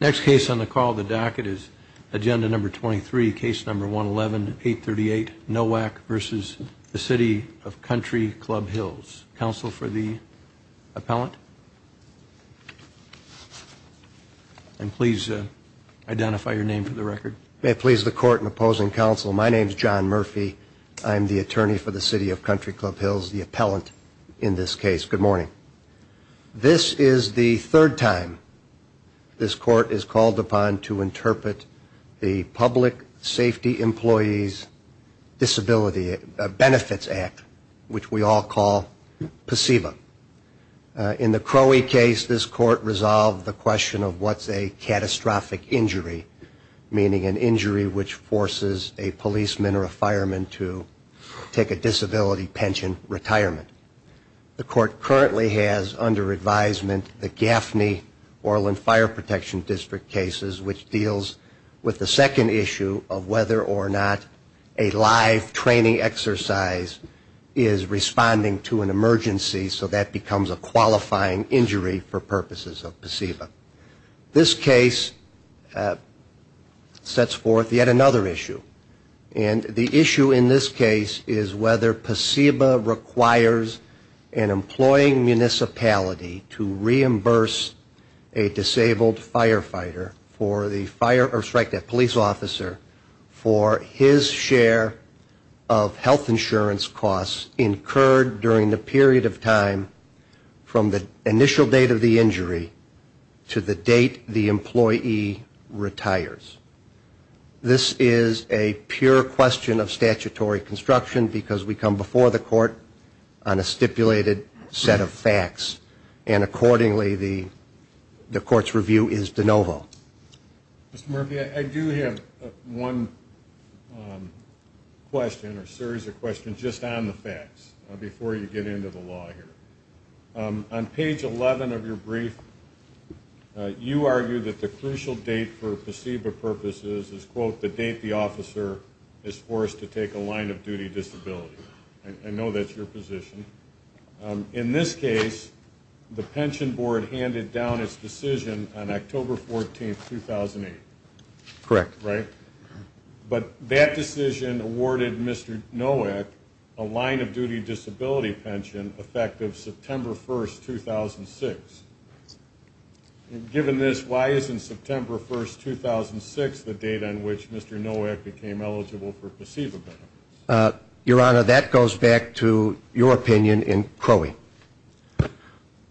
Next case on the call of the docket is agenda number 23, case number 111-838, Nowak v. City of Country Club Hills. Counsel for the appellant? And please identify your name for the record. May it please the court in opposing counsel, my name is John Murphy. I am the attorney for the City of Country Club Hills, the appellant in this case. Good morning. This is the third time this court is called upon to interpret the Public Safety Employees Disability Benefits Act, which we all call PSEBA. In the Crowey case, this court resolved the question of what's a catastrophic injury, meaning an injury which forces a policeman or a fireman to take a disability pension retirement. The court currently has under advisement the Gaffney-Orland Fire Protection District cases, which deals with the second issue of whether or not a live training exercise is responding to an emergency, so that becomes a qualifying injury for purposes of PSEBA. This case sets forth yet another issue, and the issue in this case is whether PSEBA requires an injury that requires an employing municipality to reimburse a disabled firefighter for the fire or strike that police officer for his share of health insurance costs incurred during the period of time from the initial date of the injury to the date the employee retires. This is a pure question of statutory construction, because we come before the court on a stipulated set of facts, and accordingly the court's review is de novo. Mr. Murphy, I do have one question or series of questions just on the facts, before you get into the law here. On page 11 of your brief, you argue that the crucial date for PSEBA to be implemented for your purposes is, quote, the date the officer is forced to take a line-of-duty disability. I know that's your position. In this case, the pension board handed down its decision on October 14, 2008. But that decision awarded Mr. Nowak a line-of-duty disability pension effective September 1, 2006. Given this, why isn't September 1, 2006 the date on which Mr. Nowak became eligible for PSEBA benefits? Your Honor, that goes back to your opinion in Crowley.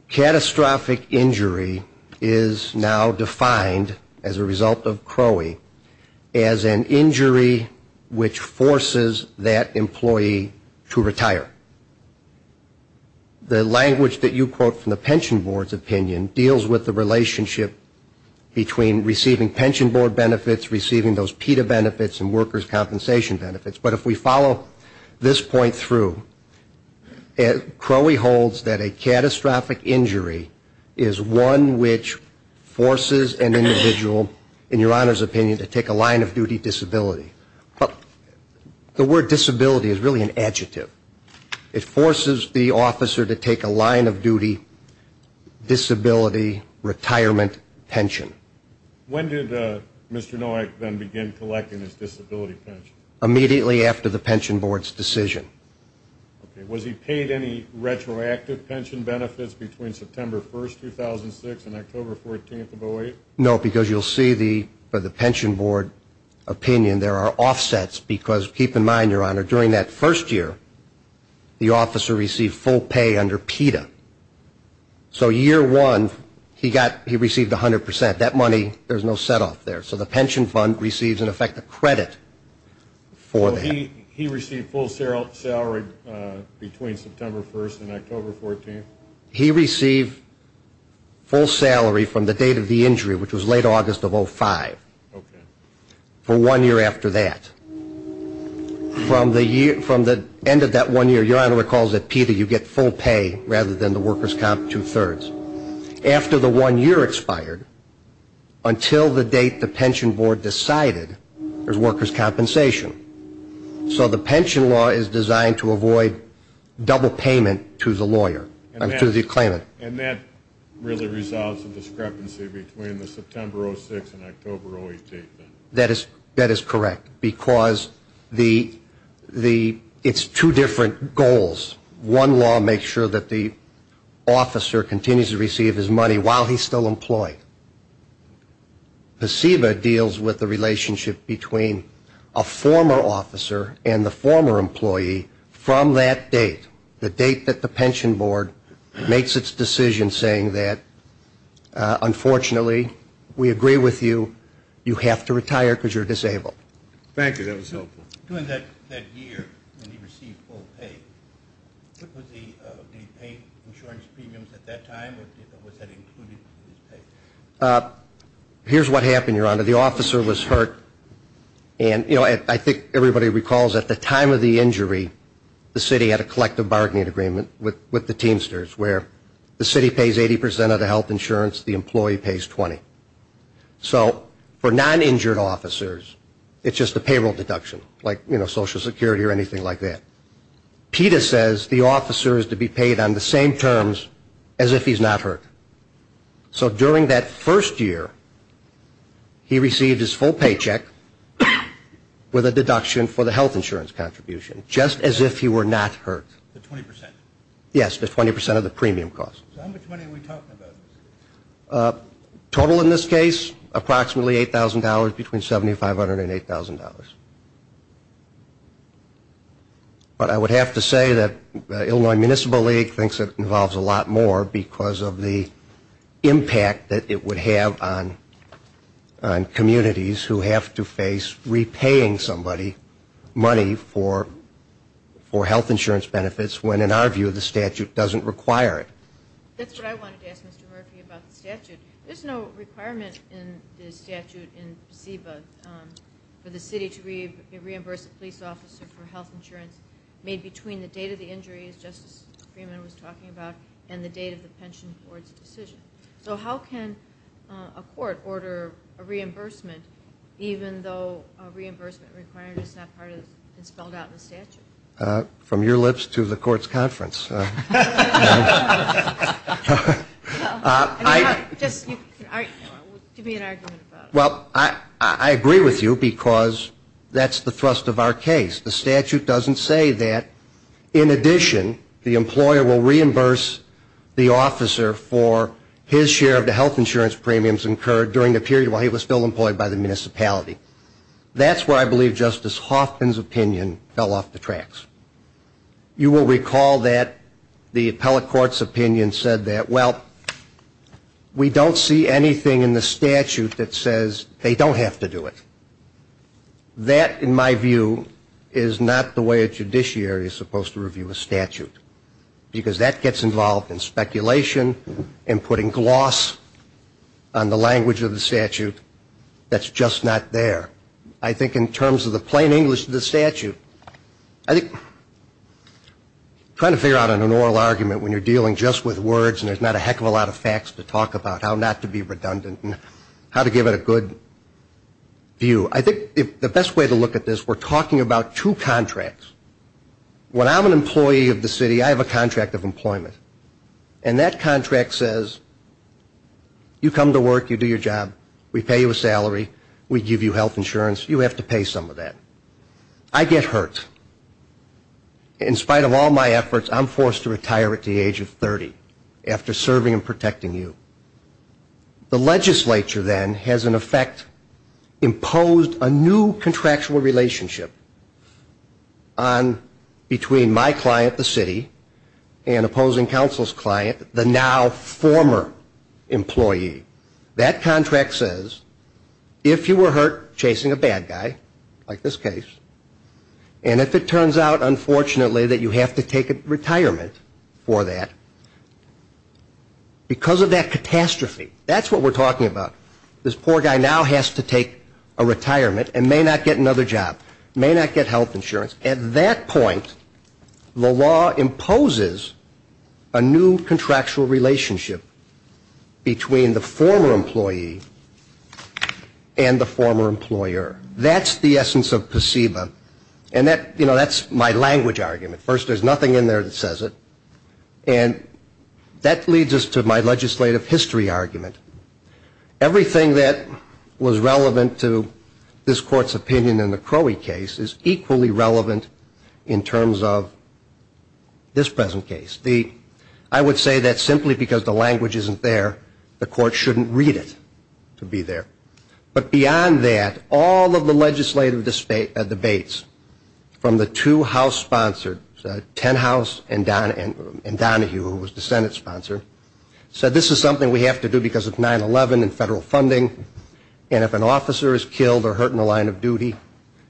Catastrophic injury is now defined, as a result of Crowley, as an injury which forces that employee to retire. The language that you quote from the pension board's opinion deals with the relationship between receiving pension board benefits, receiving those PETA benefits and workers' compensation benefits. But if we follow this point through, Crowley holds that a catastrophic injury is one which forces an individual, in your Honor's opinion, to take a line-of-duty disability. But the word disability is really an adjective. It forces the officer to take a line-of-duty disability retirement pension. When did Mr. Nowak then begin collecting his disability pension? Immediately after the pension board's decision. Okay. Was he paid any retroactive pension benefits between September 1, 2006 and October 14, 2008? No, because you'll see for the pension board opinion, there are offsets. Because keep in mind, your Honor, during that first year, the officer received full pay under PETA. So year one, he received 100%. That money, there's no set-off there. So the pension fund receives, in effect, a credit for that. So he received full salary between September 1 and October 14? He received full salary from the date of the injury, which was late August of 05, for one year after that. From the end of that one year, your Honor recalls that PETA, you get full pay rather than the workers' comp, two-thirds. After the one year expired, until the date the pension board decided, there's workers' compensation. So the pension law is designed to avoid double payment to the lawyer, to the claimant. And that really resolves the discrepancy between the September 06 and October 08? That is correct, because it's two different goals. One law makes sure that the officer continues to receive his money while he's still employed. PSEBA deals with the relationship between a former officer and the former employee from that date, the date that the pension board makes its decision saying that, unfortunately, we agree with you, you have to retire because you're disabled. Thank you. That was helpful. During that year when he received full pay, did he pay insurance premiums at that time, or was that included in his pay? Here's what happened, your Honor. The officer was hurt, and I think everybody recalls at the time of the injury, the city had a collective bargaining agreement with the Teamsters, where the city pays 80% of the health insurance, the employee pays 20. So for non-injured officers, it's just a payroll deduction, like Social Security or anything like that. PETA says the officer is to be paid on the same terms as if he's not hurt. So during that first year, he received his full paycheck with a deduction for the health insurance contribution, just as if he were not hurt. Yes, the 20% of the premium cost. Total in this case, approximately $8,000, between $7,500 and $8,000. But I would have to say that Illinois Municipal League thinks it involves a lot more because of the impact that it would have on communities who have to face repaying somebody money for health insurance benefits, when in our view the statute doesn't require it. That's what I wanted to ask Mr. Murphy about the statute. There's no requirement in the statute for the city to reimburse a police officer for health insurance made between the date of the injury, as Justice Freeman was talking about, and the date of the pension board's decision. So how can a court order a reimbursement even though a reimbursement requirement is not spelled out in the statute? From your lips to the court's conference. Just give me an argument about it. Well, I agree with you because that's the thrust of our case. The statute doesn't say that. In addition, the employer will reimburse the officer for his share of the health insurance premiums incurred during the period while he was still employed by the municipality. That's where I believe Justice Hoffman's opinion fell off the tracks. You will recall that the appellate court's opinion said that, well, we don't see anything in the statute that says they don't have to do it. That, in my view, is not the way a judiciary is supposed to review a statute because that gets involved in speculation and putting gloss on the language of the statute that's just not there. I think in terms of the plain English of the statute, I think trying to figure out an oral argument when you're dealing just with words and there's not a heck of a lot of facts to talk about how not to be redundant and how to give it a good view, I think the best way to look at this, we're talking about two contracts. When I'm an employee of the city, I have a contract of employment. And that contract says you come to work, you do your job, we pay you a salary, we give you health insurance, you have to pay some of that. I get hurt. In spite of all my efforts, I'm forced to retire at the age of 30 after serving and protecting you. The legislature then has in effect imposed a new contractual relationship between my client, the city, and opposing counsel's client, the now former employee. That contract says if you were hurt chasing a bad guy, like this case, and if it turns out, unfortunately, that you have to take retirement for that, because of that catastrophe, that's what we're talking about, this poor guy now has to take a retirement and may not get another job, may not get health insurance. At that point, the law imposes a new contractual relationship between the former employee and the former employer. That's the essence of placebo. And that's my language argument. First, there's nothing in there that says it. And that leads us to my legislative history argument. Everything that was relevant to this Court's opinion in the Crowey case is equally relevant in terms of this present case. I would say that simply because the language isn't there, the Court shouldn't read it to be there. But beyond that, all of the legislative debates from the two House-sponsored, Tenhouse and Donahue, who was the Senate sponsor, said this is something we have to do because of 9-11 and federal funding, and if an officer is killed or hurt in the line of duty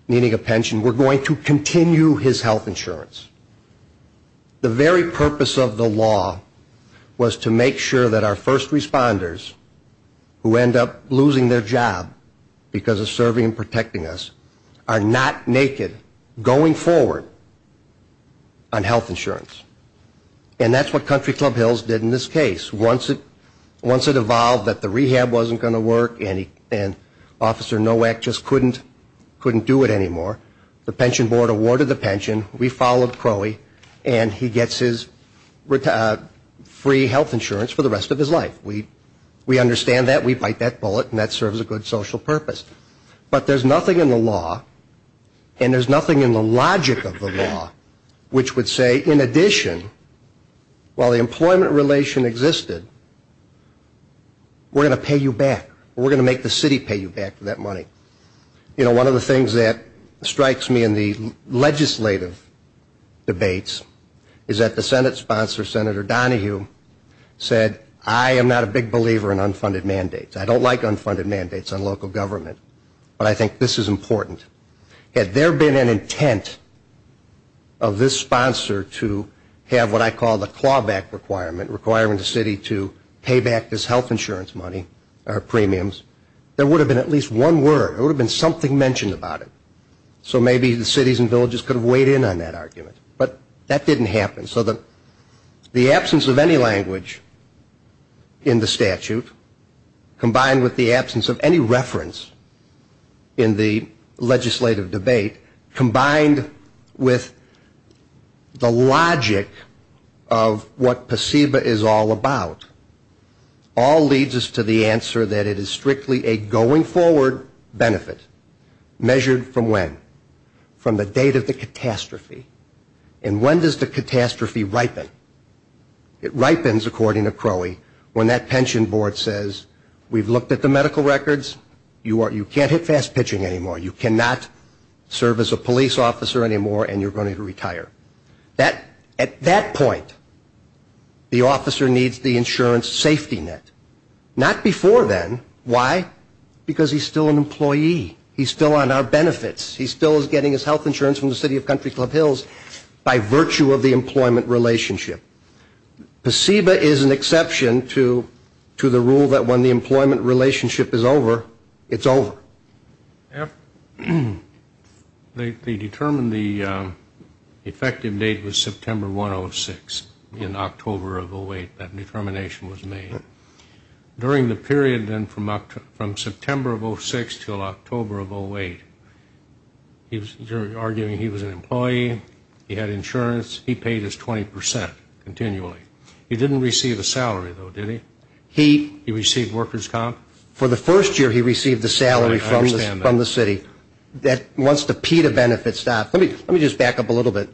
needing a pension, we're going to continue his health insurance. The very purpose of the law was to make sure that our first responders who end up losing their job because of serving and protecting us are not naked going forward on health insurance. And that's what Country Club Hills did in this case. Once it evolved that the rehab wasn't going to work and Officer Nowak just couldn't do it anymore, the Pension Board awarded the pension, we followed Crowey, and he gets his free health insurance for the rest of his life. We understand that, we bite that bullet, and that serves a good social purpose. But there's nothing in the law, and there's nothing in the logic of the law, which would say in addition, while the employment relation existed, we're going to pay you back. We're going to make the city pay you back for that money. You know, one of the things that strikes me in the legislative debates is that the Senate sponsor, Senator Donahue, said I am not a big believer in unfunded mandates. I don't like unfunded mandates on local government, but I think this is important. Had there been an intent of this sponsor to have what I call the clawback requirement, requiring the city to pay back this health insurance money or premiums, there would have been at least one word. There would have been something mentioned about it. So maybe the cities and villages could have weighed in on that argument. But that didn't happen. So the absence of any language in the statute, combined with the absence of any reference in the legislative debate, combined with the logic of what PSEBA is all about, all leads us to the answer that it is strictly a going forward benefit, measured from when? From the date of the catastrophe. And when does the catastrophe ripen? It ripens, according to Crowley, when that pension board says we've looked at the medical records, you can't hit fast pitching anymore, you cannot serve as a police officer anymore, and you're going to retire. At that point, the officer needs the insurance safety net. Not before then. Why? Because he's still an employee. He's still on our benefits. He still is getting his health insurance from the city of Country Club Hills by virtue of the employment relationship. PSEBA is an exception to the rule that when the employment relationship is over, it's over. They determined the effective date was September 106. In October of 08, that determination was made. During the period then from September of 06 until October of 08, he was arguing he was an employee, he had insurance, he paid his 20% continually. He didn't receive a salary, though, did he? He received workers' comp? For the first year, he received the salary from the city. Once the PETA benefits stopped, let me just back up a little bit.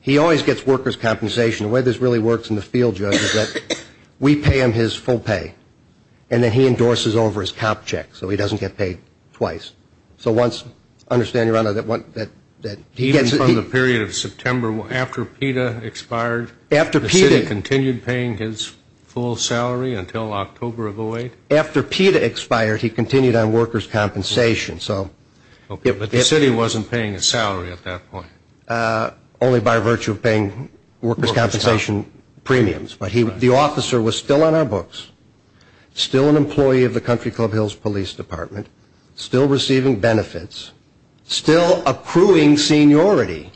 He always gets workers' compensation. The way this really works in the field, Judge, is that we pay him his full pay, and then he endorses over his comp check so he doesn't get paid twice. So once, understand, Your Honor, that he gets it. Even from the period of September, after PETA expired, the city continued paying his full salary until October of 08? After PETA expired, he continued on workers' compensation. But the city wasn't paying his salary at that point? Only by virtue of paying workers' compensation premiums. But the officer was still on our books, still an employee of the Country Club Hills Police Department, still receiving benefits, still accruing seniority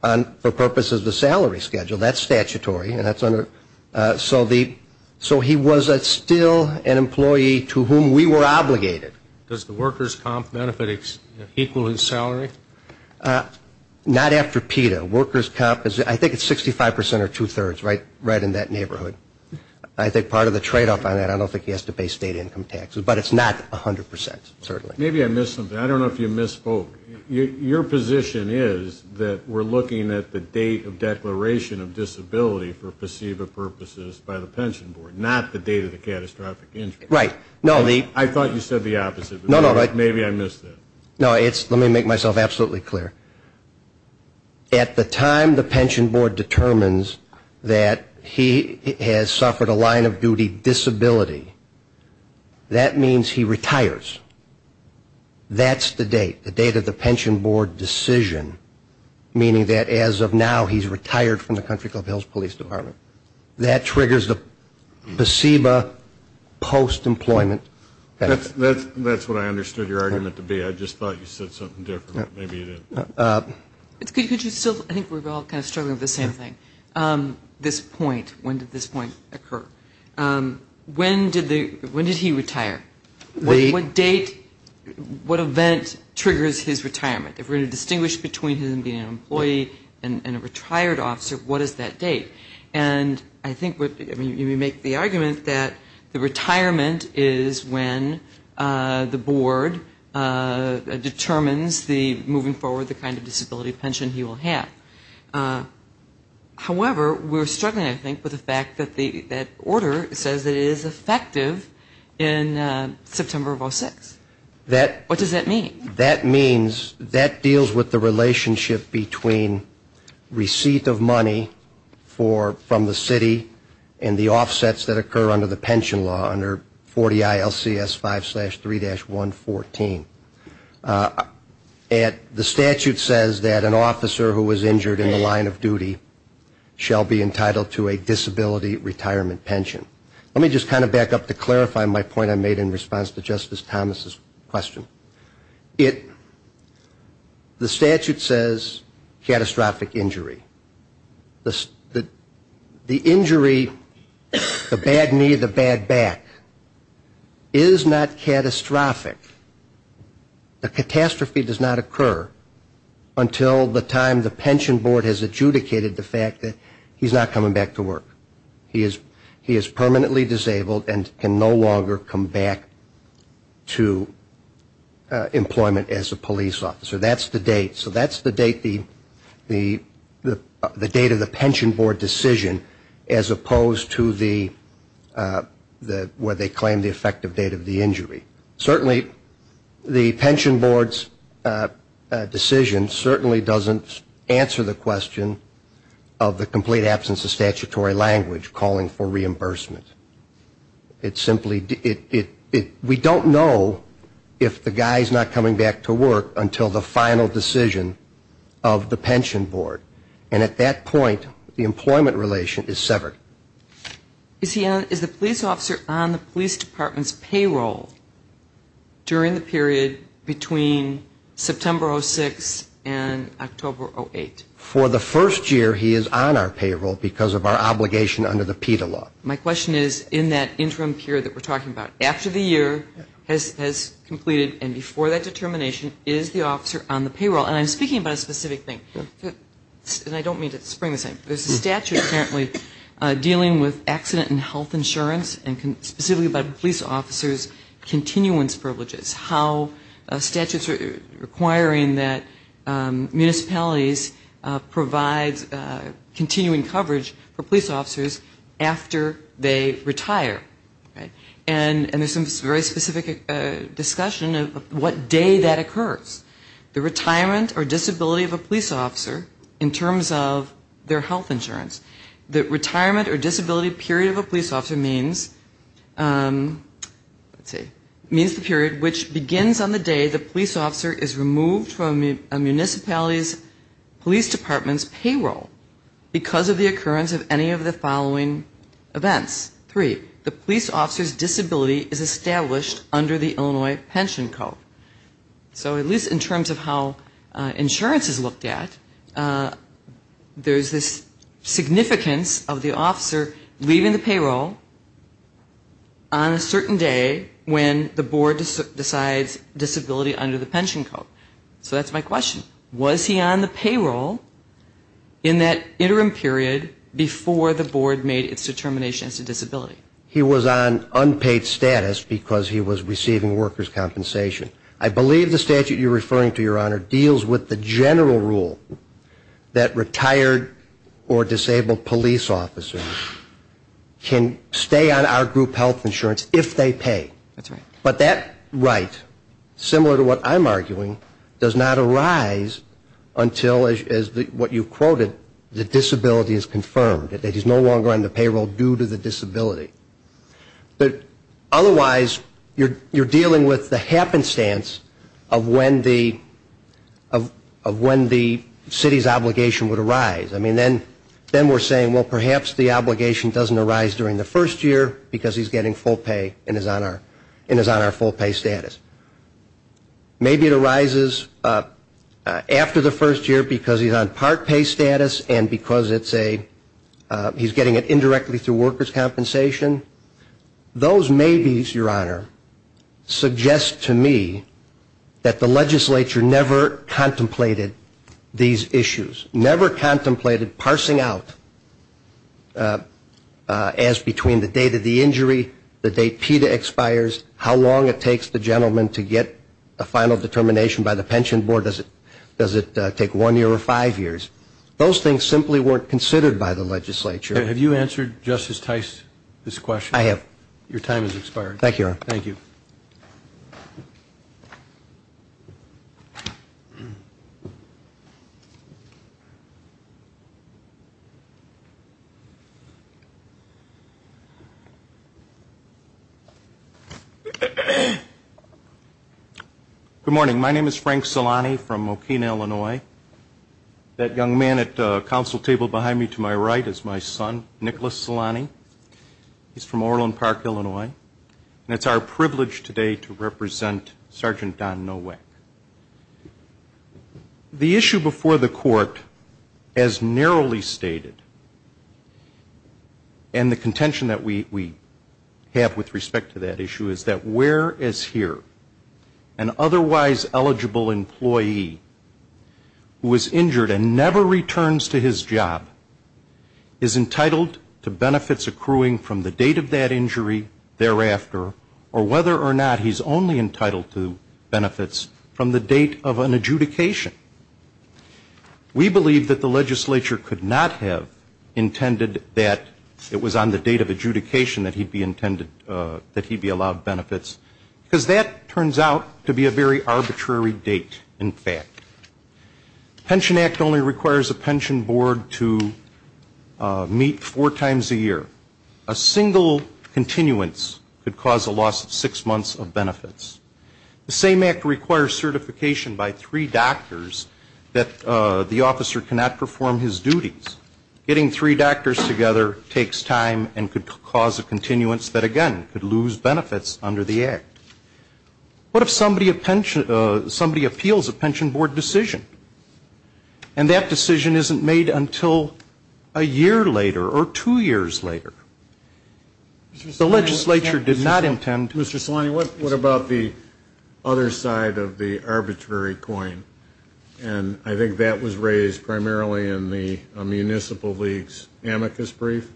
for purposes of the salary schedule. That's statutory. So he was still an employee to whom we were obligated. Does the workers' comp benefit equal his salary? Not after PETA. Workers' comp, I think it's 65% or two-thirds, right in that neighborhood. I think part of the tradeoff on that, I don't think he has to pay state income taxes. But it's not 100%, certainly. Maybe I missed something. I don't know if you misspoke. Your position is that we're looking at the date of declaration of disability for perceived purposes by the pension board, not the date of the catastrophic injury. I thought you said the opposite, but maybe I missed that. Let me make myself absolutely clear. At the time the pension board determines that he has suffered a line of duty disability, that means he retires. That's the date, the date of the pension board decision, meaning that as of now he's retired from the country club Hills Police Department. That triggers the placebo post-employment. That's what I understood your argument to be. I think we're all kind of struggling with the same thing. This point, when did this point occur? When did he retire? What date, what event triggers his retirement? If we're going to distinguish between him being an employee and a retired officer, what is that date? And I think you make the argument that the retirement is when the board determines moving forward the kind of disability pension he will have. However, we're struggling, I think, with the fact that the order says that it is effective in September of 06. What does that mean? That means that deals with the relationship between receipt of money from the city and the offsets that occur under the pension law, under 40 ILCS 5-3-114. And the statute says that an officer who was injured in the line of duty shall be entitled to a disability retirement pension. Let me just kind of back up to clarify my point I made in response to Justice Thomas's question. The statute says catastrophic injury. The injury, the bad knee, the bad back, is not catastrophic. The catastrophe does not occur until the time the pension board has adjudicated the fact that he's not coming back to work. He is permanently disabled and can no longer come back to employment as a police officer. That's the date. So that's the date of the pension board decision as opposed to where they claim the effective date of the injury. Certainly the pension board's decision certainly doesn't answer the question of the complete absence of statutory language calling for reimbursement. It simply, we don't know if the guy's not coming back to work until the final decision of the pension board. And at that point, the employment relation is severed. Is the police officer on the police department's payroll during the period between September 06 and October 08? For the first year he is on our payroll because of our obligation under the PETA law. My question is in that interim period that we're talking about, after the year has completed and before that determination, is the officer on the payroll? And I'm speaking about a specific thing. And I don't mean to spring the same. There's a statute currently dealing with accident and health insurance and specifically about police officers' continuance privileges. How statutes are requiring that municipalities provide continuing coverage for police officers after they retire. And there's some very specific discussion of what day that occurs. The retirement or disability of a police officer in terms of their health insurance. The retirement or disability period of a police officer means the period which begins on the day the police officer is removed from a municipality's police department's payroll because of the occurrence of any of the following events. Three, the police officer's disability is established under the Illinois Pension Code. So at least in terms of how insurance is looked at, there's this significance of the officer leaving the payroll on a certain day when the board decides disability under the pension code. So that's my question. Was he on the payroll in that interim period before the board made its determination as to disability? I believe the statute you're referring to, Your Honor, deals with the general rule that retired or disabled police officers can stay on our group health insurance if they pay. But that right, similar to what I'm arguing, does not arise until, as what you quoted, the disability is confirmed. It is no longer on the payroll due to the disability. But otherwise, you're dealing with the happenstance of when the city's obligation would arise. I mean, then we're saying, well, perhaps the obligation doesn't arise during the first year because he's getting full pay and is on our full pay status. Maybe it arises after the first year because he's on part pay status and because it's a, he's getting it indirectly through workers' compensation. Those maybes, Your Honor, suggest to me that the legislature never contemplated these issues, never contemplated parsing out as between the date of the injury, the date PETA expires, how long it takes the gentleman to get a final determination by the pension board. Does it take one year or five years? Those things simply weren't considered by the legislature. Have you answered Justice Tice's question? I have. Your time has expired. Thank you, Your Honor. Good morning. My name is Frank Solani from Mokina, Illinois. That young man at the council table behind me to my right is my son, Nicholas Solani. He's from Orland Park, Illinois. And it's our privilege today to represent Sergeant Don Nowak. The issue before the court, as narrowly stated, and the contention that we have with respect to that issue, is that where is here an otherwise eligible employee who is injured and never returns to his job is entitled to benefits accruing from the date of that injury thereafter, or whether or not he's only entitled to benefits from the date of an adjudication. We believe that the legislature could not have intended that it was on the date of adjudication that he'd be allowed benefits, because that turns out to be a very arbitrary date, in fact. The Pension Act only requires a pension board to meet four times a year. A single continuance could cause a loss of six months of benefits. The same act requires certification by three doctors that the officer cannot perform his duties. Getting three doctors together takes time and could cause a continuance that, again, could lose benefits under the act. What if somebody appeals a pension board decision? And that decision isn't made until a year later or two years later. The legislature did not intend to. Mr. Salani, what about the other side of the arbitrary coin? And I think that was raised primarily in the Municipal League's amicus brief,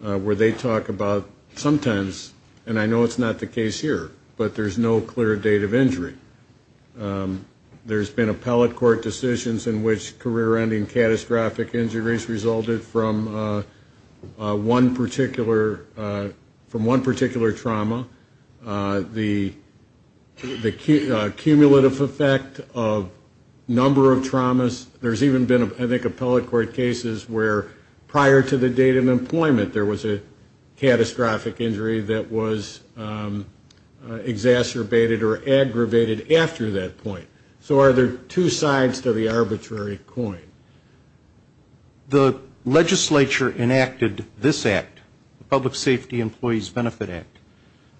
where they talk about sometimes, and I know it's not the case here, but there's no clear date of injury. There's been appellate court decisions in which career-ending catastrophic injuries resulted from one particular trauma. The cumulative effect of number of traumas. There's even been, I think, appellate court cases where prior to the date of employment there was a catastrophic injury that was exacerbated or aggravated after that point. So are there two sides to the arbitrary coin? The legislature enacted this act, the Public Safety Employees Benefit Act,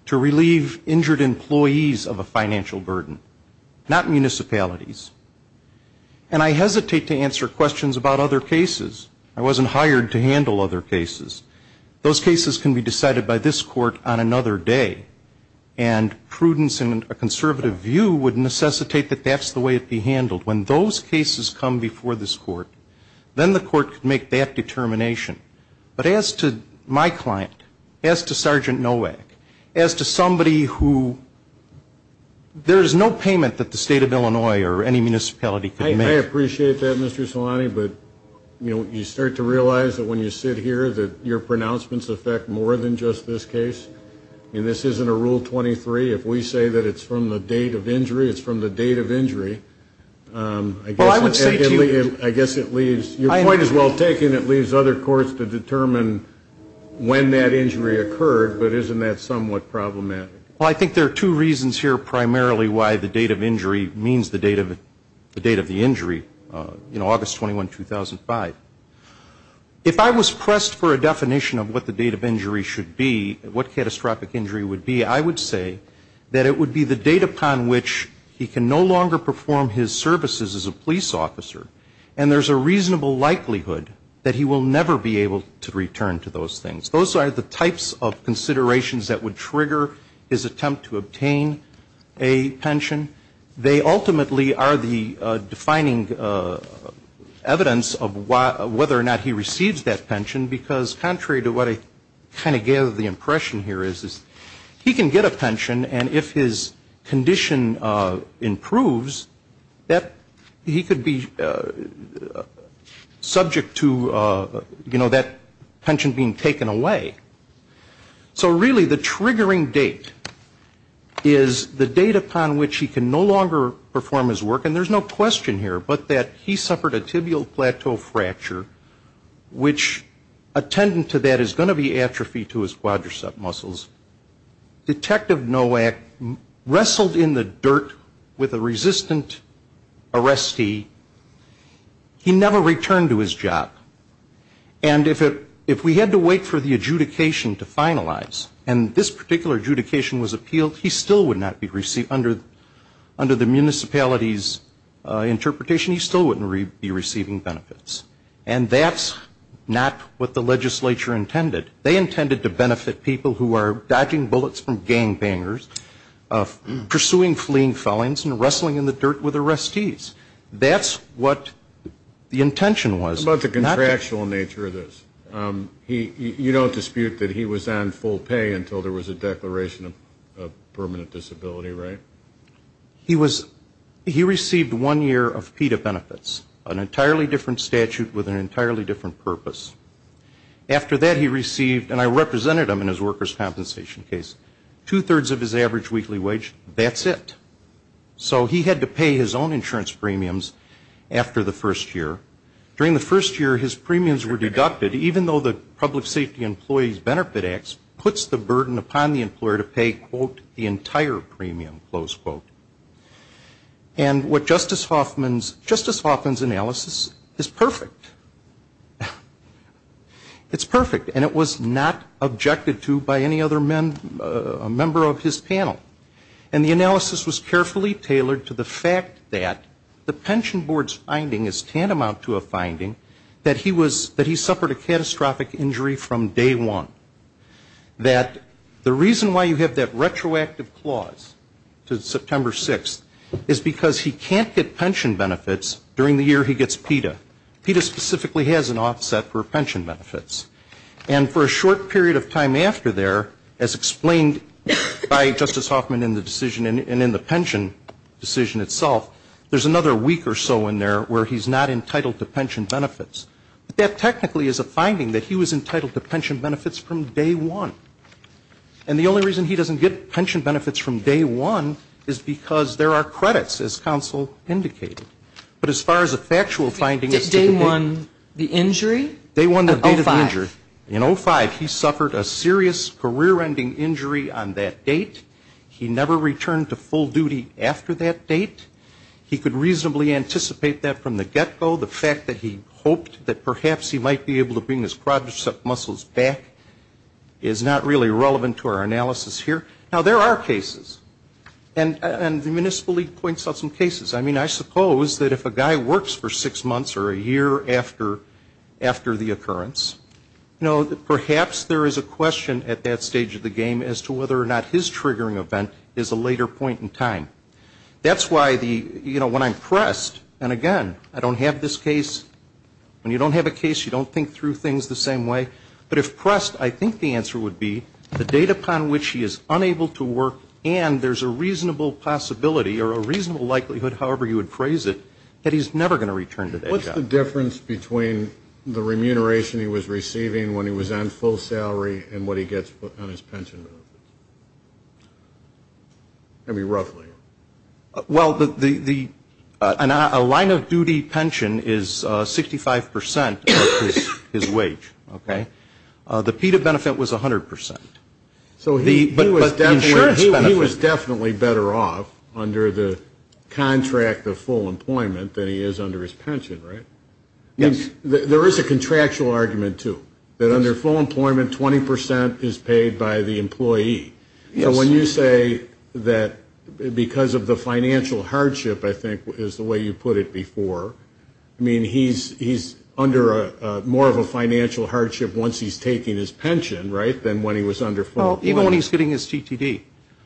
to relieve injured employees of a financial burden. Not municipalities. And I hesitate to answer questions about other cases. I wasn't hired to handle other cases. Those cases can be decided by this court on another day. And prudence and a conservative view would necessitate that that's the way it be handled. When those cases come before this court, then the court can make that determination. But as to my client, as to Sergeant Nowak, as to somebody who, there is no payment that the State of Illinois or any municipality could make. I appreciate that, Mr. Salani. But you start to realize that when you sit here that your pronouncements affect more than just this case. I mean, this isn't a Rule 23. If we say that it's from the date of injury, it's from the date of injury. I guess it leaves, your point is well taken. It leaves other courts to determine when that injury occurred. But isn't that somewhat problematic? Well, I think there are two reasons here primarily why the date of injury means the date of the injury, you know, August 21, 2005. If I was pressed for a definition of what the date of injury should be, what catastrophic injury would be, I would say that it would be the date upon which he can no longer perform his services as a police officer. And there's a reasonable likelihood that he will never be able to return to those things. Those are the types of considerations that would trigger his attempt to obtain a pension. They ultimately are the defining evidence of whether or not he receives that pension, because contrary to what I kind of gave the impression here is, he can get a pension, and if his condition improves, that he could be, you know, subject to, you know, that pension being taken away. So really the triggering date is the date upon which he can no longer perform his work, and there's no question here, but that he suffered a tibial plateau fracture, which attendant to that is going to be atrophy to his quadricep muscles. Detective Nowak wrestled in the dirt with a resistant arrestee, he never returned to his job, and if we had to wait for the adjudication to finalize, and this particular adjudication was appealed, he still would not be received, under the municipality's interpretation, he still wouldn't be receiving benefits. And that's not what the legislature intended. They intended to benefit people who are dodging bullets from gangbangers, pursuing fleeing felons, and wrestling in the dirt with arrestees. That's what the intention was. How about the contractual nature of this? You don't dispute that he was on full pay until there was a declaration of permanent disability, right? He received one year of PETA benefits, an entirely different statute with an entirely different purpose. After that he received, and I represented him in his workers' compensation case, two-thirds of his average weekly wage, that's it. So he had to pay his own insurance premiums after the first year. During the first year his premiums were deducted, even though the Public Safety Employees Benefit Act puts the burden upon the employer to pay, quote, the entire premium, close quote. And what Justice Hoffman's analysis is perfect. It's perfect. And it was not objected to by any other member of his panel. And the analysis was carefully tailored to the fact that the pension board's finding is tantamount to a finding that he suffered a catastrophic injury from day one. That the reason why you have that retroactive clause to September 6th, is because he can't get pension benefits during the year he gets PETA. PETA specifically has an offset for pension benefits. And for a short period of time after there, as explained by Justice Hoffman in the decision and in the pension decision itself, there's another week or so in there where he's not entitled to pension benefits. But that technically is a finding that he was entitled to pension benefits from day one. And the only reason he doesn't get pension benefits from day one is because there are credits, as counsel indicated. But as far as a factual finding is to be made. Did day one, the injury? In 05, he suffered a serious career-ending injury on that date. He never returned to full duty after that date. He could reasonably anticipate that from the get-go. The fact that he hoped that perhaps he might be able to bring his quadricep muscles back is not really relevant to our analysis here. Now, there are cases. And the Municipal League points out some cases. I mean, I suppose that if a guy works for six months or a year after the occurrence, you know, perhaps there is a question at that stage of the game as to whether or not his triggering event is a later point in time. That's why the, you know, when I'm pressed, and again, I don't have this case. When you don't have a case, you don't think through things the same way. But if pressed, I think the answer would be the date upon which he is unable to work and there's a reasonable possibility or a reasonable likelihood, however you would phrase it, that he's never going to return to day job. What's the difference between the remuneration he was receiving when he was on full salary and what he gets on his pension benefits? I mean, roughly. Well, a line of duty pension is 65 percent of his wage. The PETA benefit was 100 percent. But he was definitely better off under the contract of full employment than he is under his pension, right? There is a contractual argument, too, that under full employment, 20 percent is paid by the employee. So when you say that because of the financial hardship, I think is the way you put it before, I mean, he's under more of a financial hardship once he's taking his pension, right, than when he was under full employment. Well, even when he's getting his TTD.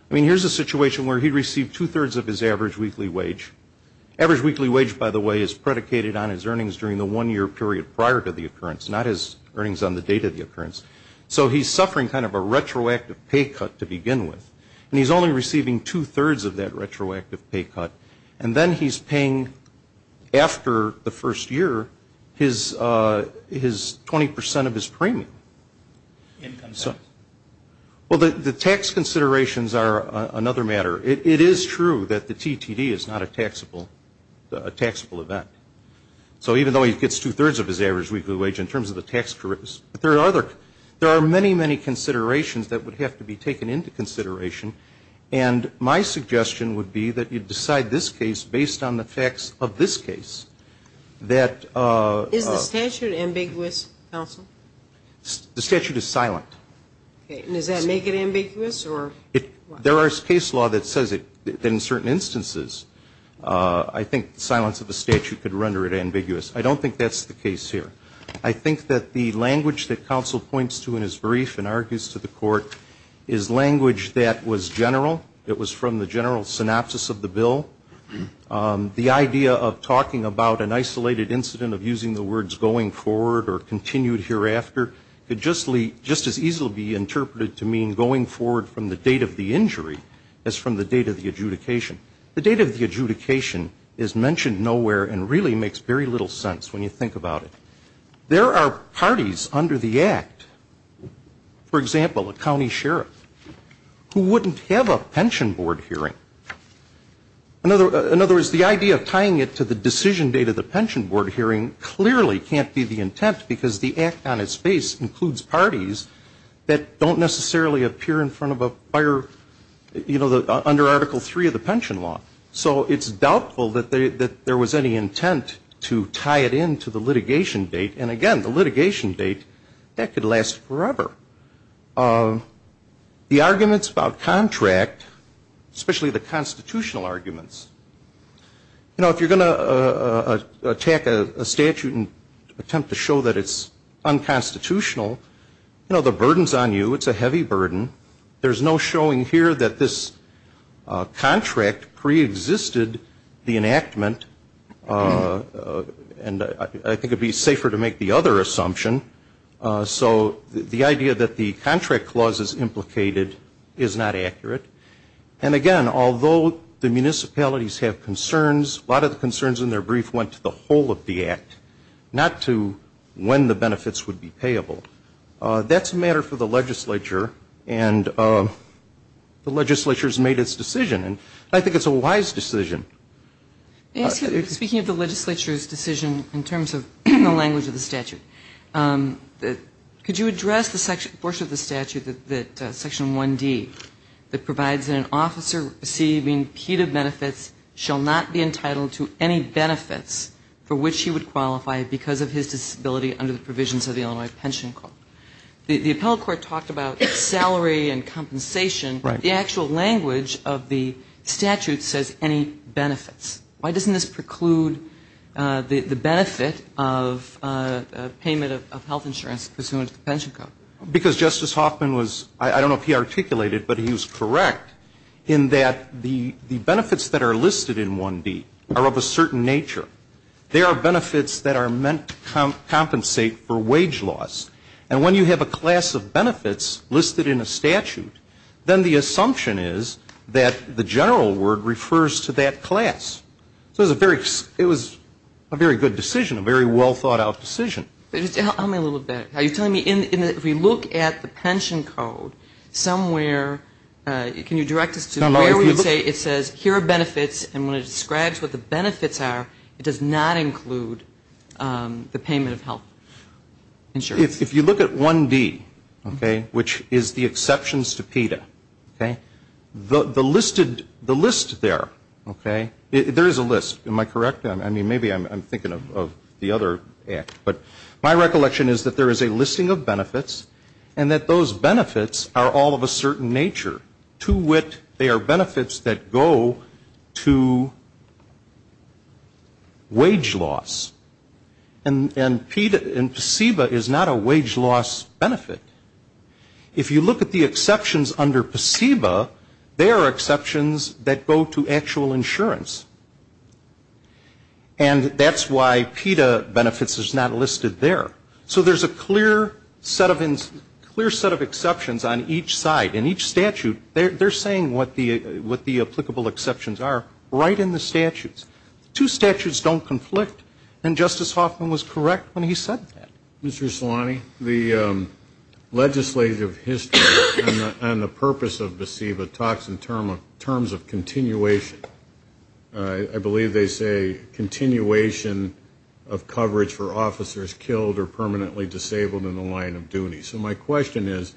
I mean, here's a situation where he received two-thirds of his average weekly wage. Average weekly wage, by the way, is predicated on his earnings during the one-year period prior to the occurrence, not his earnings on the date of the occurrence. So he's suffering kind of a retroactive pay cut to begin with, and he's only receiving two-thirds of that retroactive pay cut. And then he's paying, after the first year, his 20 percent of his premium. Income tax. Well, the tax considerations are another matter. It is true that the TTD is not a taxable event. So even though he gets two-thirds of his average weekly wage in terms of the tax, there are many, many considerations that would have to be taken into consideration. And my suggestion would be that you decide this case based on the facts of this case. Is the statute ambiguous, counsel? The statute is silent. Does that make it ambiguous? There is case law that says that in certain instances I think silence of the statute could render it ambiguous. I don't think that's the case here. I think that the language that counsel points to in his brief and argues to the court is language that was general. It was from the general synopsis of the bill. The idea of talking about an isolated incident, of using the words going forward or continued hereafter, could just as easily be interpreted to mean going forward from the date of the injury as from the date of the adjudication. The date of the adjudication is mentioned nowhere and really makes very little sense when you think about it. There are parties under the Act, for example, a county sheriff, who wouldn't have a pension board hearing. In other words, the idea of tying it to the decision date of the pension board hearing clearly can't be the intent, because the Act on its face includes parties that don't necessarily appear in front of a fire, you know, under Article III of the pension law. So it's doubtful that there was any intent to tie it in to the litigation date. And again, the litigation date, that could last forever. The arguments about contract, especially the constitutional arguments, you know, if you're going to attack a statute and attempt to show that it's unconstitutional, you know, the burden's on you. It's a heavy burden. There's no showing here that this contract preexisted the enactment. And I think it would be safer to make the other assumption. So the idea that the contract clause is implicated is not accurate. And again, although the municipalities have concerns, a lot of the concerns in their brief went to the whole of the Act, not to when the benefits would be payable. That's a matter for the legislature, and the legislature's made its decision. And I think it's a wise decision. Speaking of the legislature's decision in terms of the language of the statute, could you address the portion of the statute, Section 1D, that provides that an officer receiving PETA benefits shall not be entitled to any benefits for which he would qualify because of his disability under the provisions of the Illinois Pension Code? The appellate court talked about salary and compensation. The actual language of the statute says any benefits. Why doesn't this preclude the benefit of payment of health insurance pursuant to the Pension Code? Because Justice Hoffman was, I don't know if he articulated, but he was correct in that the benefits that are listed in 1D are of a certain nature. They are benefits that are meant to compensate for wage loss. And when you have a class of benefits listed in a statute, then the assumption is that the general word refers to that class. So it was a very good decision, a very well thought out decision. Just tell me a little bit, are you telling me if we look at the Pension Code somewhere, can you direct us to where it says here are benefits and when it describes what the benefits are, it does not include the payment of health insurance? If you look at 1D, okay, which is the exceptions to PETA, okay, the list there, okay, there is a list. Am I correct? I mean, maybe I'm thinking of the other act, but my recollection is that there is a listing of benefits and that those benefits are all of a certain nature. To wit, they are benefits that go to wage loss. And PETA and PSEBA is not a wage loss benefit. If you look at the exceptions under PSEBA, they are exceptions that go to actual insurance. And that's why PETA benefits is not listed there. So there is a clear set of exceptions on each side in each statute. They are saying what the applicable exceptions are right in the statutes. Two statutes don't conflict, and Justice Hoffman was correct when he said that. Mr. Salani, the legislative history on the purpose of PSEBA talks in terms of continuation. I believe they say continuation of coverage for officers killed or permanently disabled in the line of duty. So my question is,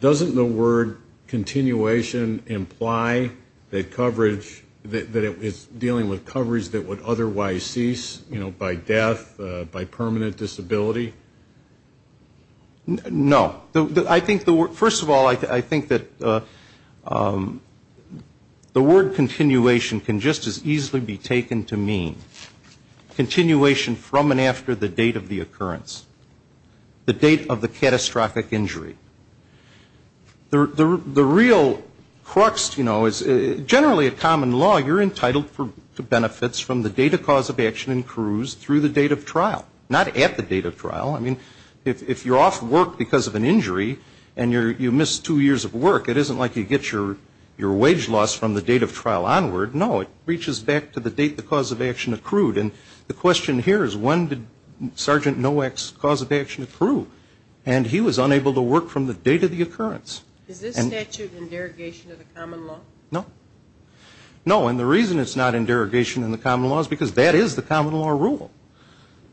doesn't the word continuation imply that coverage, that it's dealing with coverage that would otherwise cease, you know, by death, by permanent disability? No. First of all, I think that the word continuation can just as easily be taken to mean continuation from and after the date of the occurrence, the date of the catastrophic injury. The real crux, you know, is generally a common law. You're entitled to benefits from the date of cause of action and cruise through the date of trial, not at the date of trial. I mean, if you're off work because of an injury and you miss two years of work, it isn't like you get your wage loss from the date of trial onward. No, it reaches back to the date the cause of action accrued. And the question here is, when did Sergeant Nowak's cause of action accrue? And he was unable to work from the date of the occurrence. Is this statute in derogation of the common law? No. No, and the reason it's not in derogation of the common law is because that is the common law rule.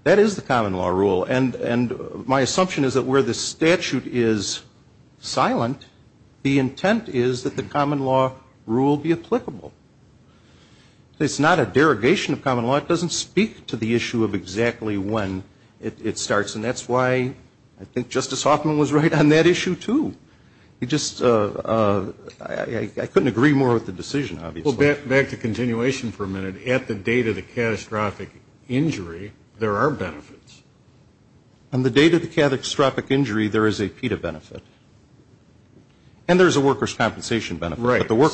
That is the common law rule. And my assumption is that where the statute is silent, the intent is that the common law rule be applicable. It's not a derogation of common law. It doesn't speak to the issue of exactly when it starts. And that's why I think Justice Hoffman was right on that issue, too. I couldn't agree more with the decision, obviously. Well, back to continuation for a minute. At the date of the catastrophic injury, there are benefits. On the date of the catastrophic injury, there is a PETA benefit. And there's a worker's compensation benefit. So,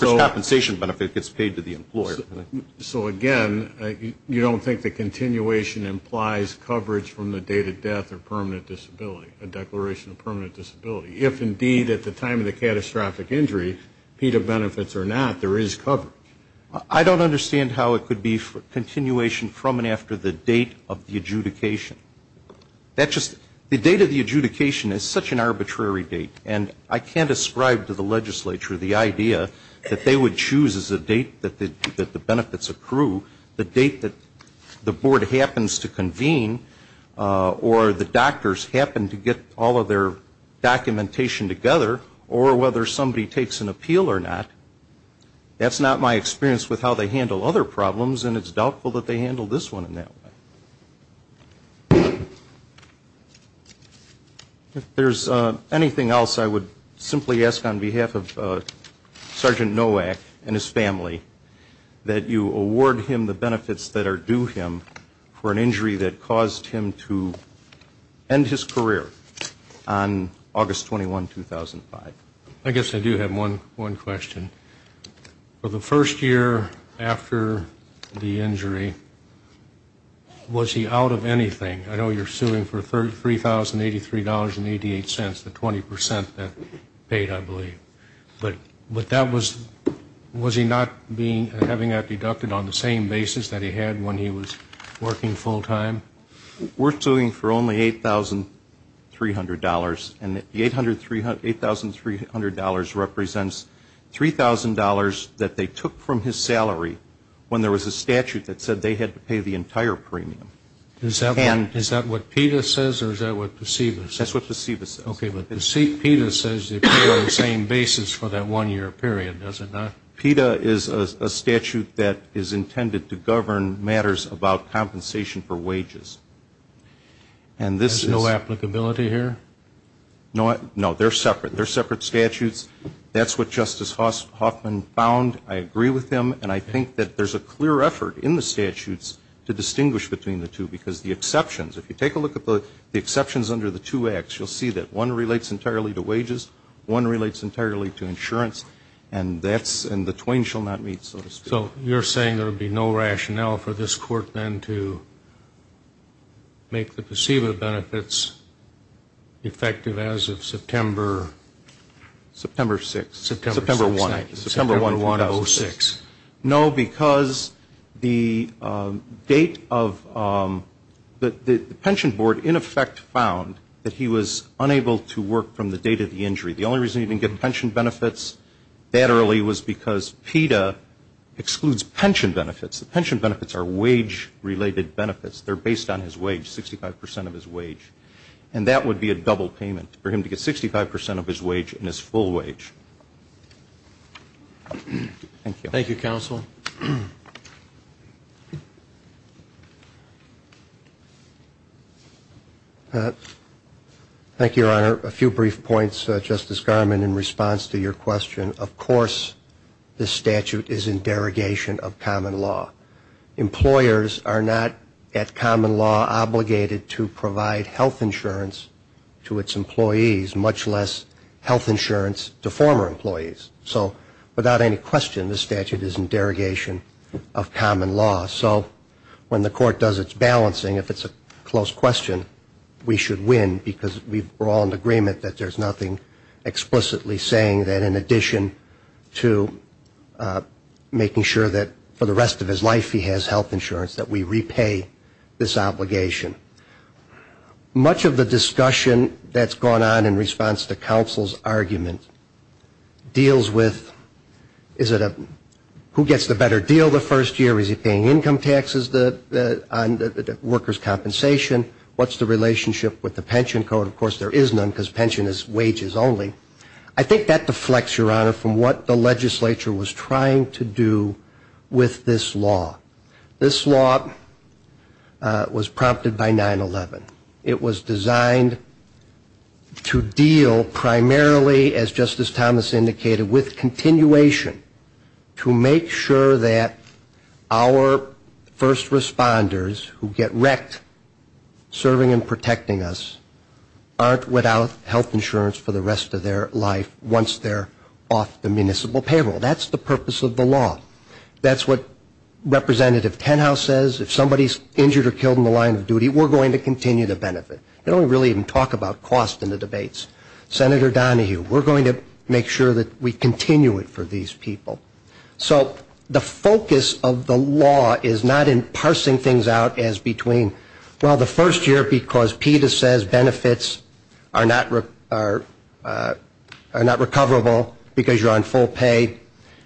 again, you don't think the continuation implies coverage from the date of death or permanent disability, a declaration of permanent disability? I don't understand how it could be continuation from and after the date of the adjudication. The date of the adjudication is such an arbitrary date. And I can't ascribe to the legislature the idea that they would choose as a date that the benefits accrue the date that the board happens to convene or the doctors happen to get all of their documentation together or whether somebody takes an appeal or not. That's not my experience with how they handle other problems, and it's doubtful that they handle this one in that way. If there's anything else, I would simply ask on behalf of Sergeant Nowak and his family that you award him the benefits that are due him for an injury that caused him to end his career on August 21, 2005. I guess I do have one question. For the first year after the injury, was he out of anything? I know you're suing for $3,083.88, the 20 percent that paid, I believe. But was he not having that deducted on the same basis that he had when he was working full time? We're suing for only $8,300. And the $8,300 represents $3,000 that they took from his salary when there was a statute that said they had to pay the entire premium. Is that what PETA says or is that what PSEBA says? That's what PSEBA says. Okay, but PETA says they pay on the same basis for that one-year period, does it not? PETA is a statute that is intended to govern matters about compensation for wages. There's no applicability here? No, they're separate. They're separate statutes. That's what Justice Hoffman found. I agree with him. And I think that there's a clear effort in the statutes to distinguish between the two because the exceptions, if you take a look at the exceptions under the two acts, you'll see that one relates entirely to wages, one relates entirely to insurance, and that's one relates entirely to insurance. And the other relates entirely to insurance. So you're saying there would be no rationale for this Court then to make the PSEBA benefits effective as of September? September 1, 2006. No, because the date of the pension board in effect found that he was unable to work from the date of the injury. That's because PETA excludes pension benefits. The pension benefits are wage-related benefits. They're based on his wage, 65 percent of his wage. And that would be a double payment for him to get 65 percent of his wage and his full wage. Thank you. Thank you, Counsel. Thank you, Your Honor. A few brief points, Justice Garmon, in response to your question. Of course this statute is in derogation of common law. Employers are not at common law obligated to provide health insurance to its employees, much less health insurance to former employees. So when the Court does its balancing, if it's a close question, we should win, because we're all in agreement that there's nothing explicitly saying that in addition to making sure that for the rest of his life he has health insurance, that we repay this obligation. Much of the discussion that's gone on in response to Counsel's argument deals with, is it a better deal the first year? Is he paying income taxes on workers' compensation? What's the relationship with the pension code? Of course there is none, because pension is wages only. I think that deflects, Your Honor, from what the legislature was trying to do with this law. This law was prompted by 9-11. It was designed to deal primarily, as Justice Thomas indicated, with continuation to make sure that the first responders who get wrecked serving and protecting us aren't without health insurance for the rest of their life once they're off the municipal payroll. That's the purpose of the law. That's what Representative Tenhouse says, if somebody's injured or killed in the line of duty, we're going to continue to benefit. They don't really even talk about cost in the debates. Senator Donahue, we're going to make sure that we continue it for these people. So the focus of the law is not in parsing things out as between, well, the first year because PETA says benefits are not recoverable because you're on full pay,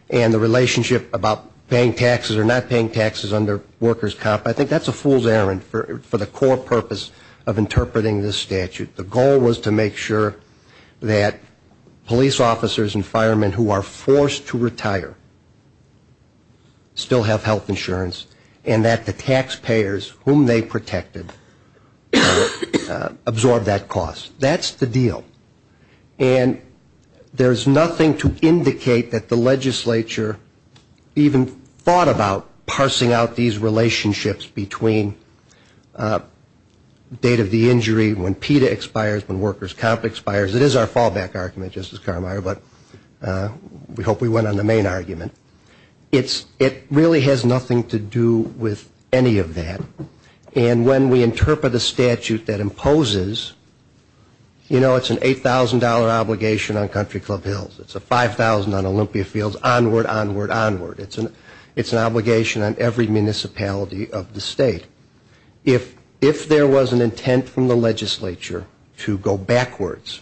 and the relationship about paying taxes or not paying taxes under workers' comp, I think that's a fool's errand for the core purpose of interpreting this statute. The goal was to make sure that police officers and firemen who are forced to retire still have health insurance and that the taxpayers whom they protected absorb that cost. That's the deal. And there's nothing to indicate that the legislature even thought about parsing out these relationships between date of the injury when PETA expires, when workers' comp expires. It is our fallback argument, Justice Carmeier, but we hope we went on the main argument. It really has nothing to do with any of that. And when we interpret a statute that imposes, you know, it's an $8,000 obligation on Country Club Hills. It's a $5,000 on Olympia Fields, onward, onward, onward. It's an obligation on every municipality of the state. If there was an intent from the legislature to go backwards,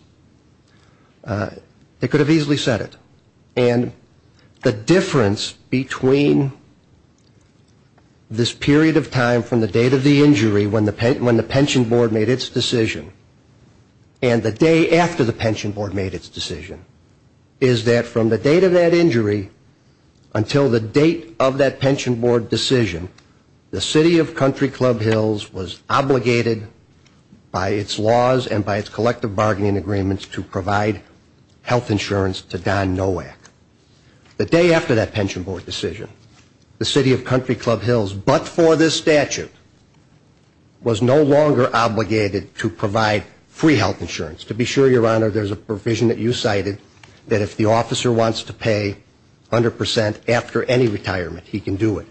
they could have easily said it. And the difference between this period of time from the date of the injury when the pension board made its decision, and the day after the pension board made its decision, is that from the date of that injury until the date of the injury, the state until the date of that pension board decision, the city of Country Club Hills was obligated by its laws and by its collective bargaining agreements to provide health insurance to Don Nowak. The day after that pension board decision, the city of Country Club Hills, but for this statute, was no longer obligated to provide free health insurance. To be sure, Your Honor, there's a provision that you cited that if the officer wants to pay 100% after any retirement, he can do it.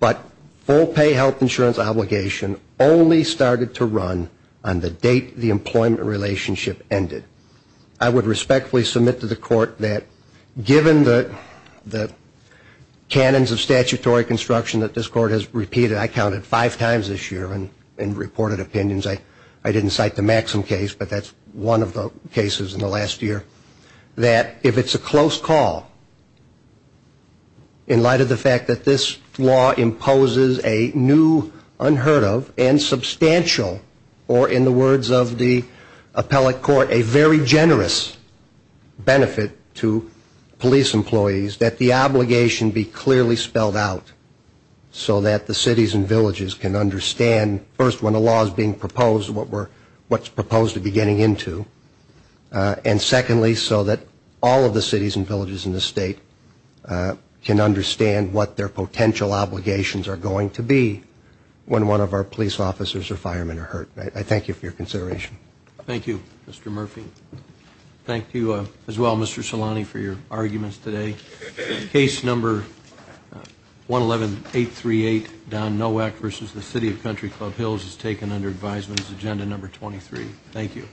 But full pay health insurance obligation only started to run on the date the employment relationship ended. I would respectfully submit to the court that given the canons of statutory construction that this court has repeated, I counted five times this year in reported opinions, I didn't cite the Maxim case, but that's one of the cases in the last year, that if it's a close call, in light of the fact that this law imposes a new, unheard of, and substantial, or in the words of the appellate court, a very generous benefit to police employees, that the obligation be clearly spelled out so that the cities and villages can understand first, when a law is being proposed, what we're, what's proposed to be getting into, and secondly, so that all of the cities and villages in the state can understand what their potential obligations are going to be when one of our police officers or firemen are hurt. I thank you for your consideration. Thank you, Mr. Murphy. Thank you as well, Mr. Solani, for your arguments today. Case number 111838, Don Nowak versus the City of Country Club Hills is taken under advisement as agenda number 23. Thank you.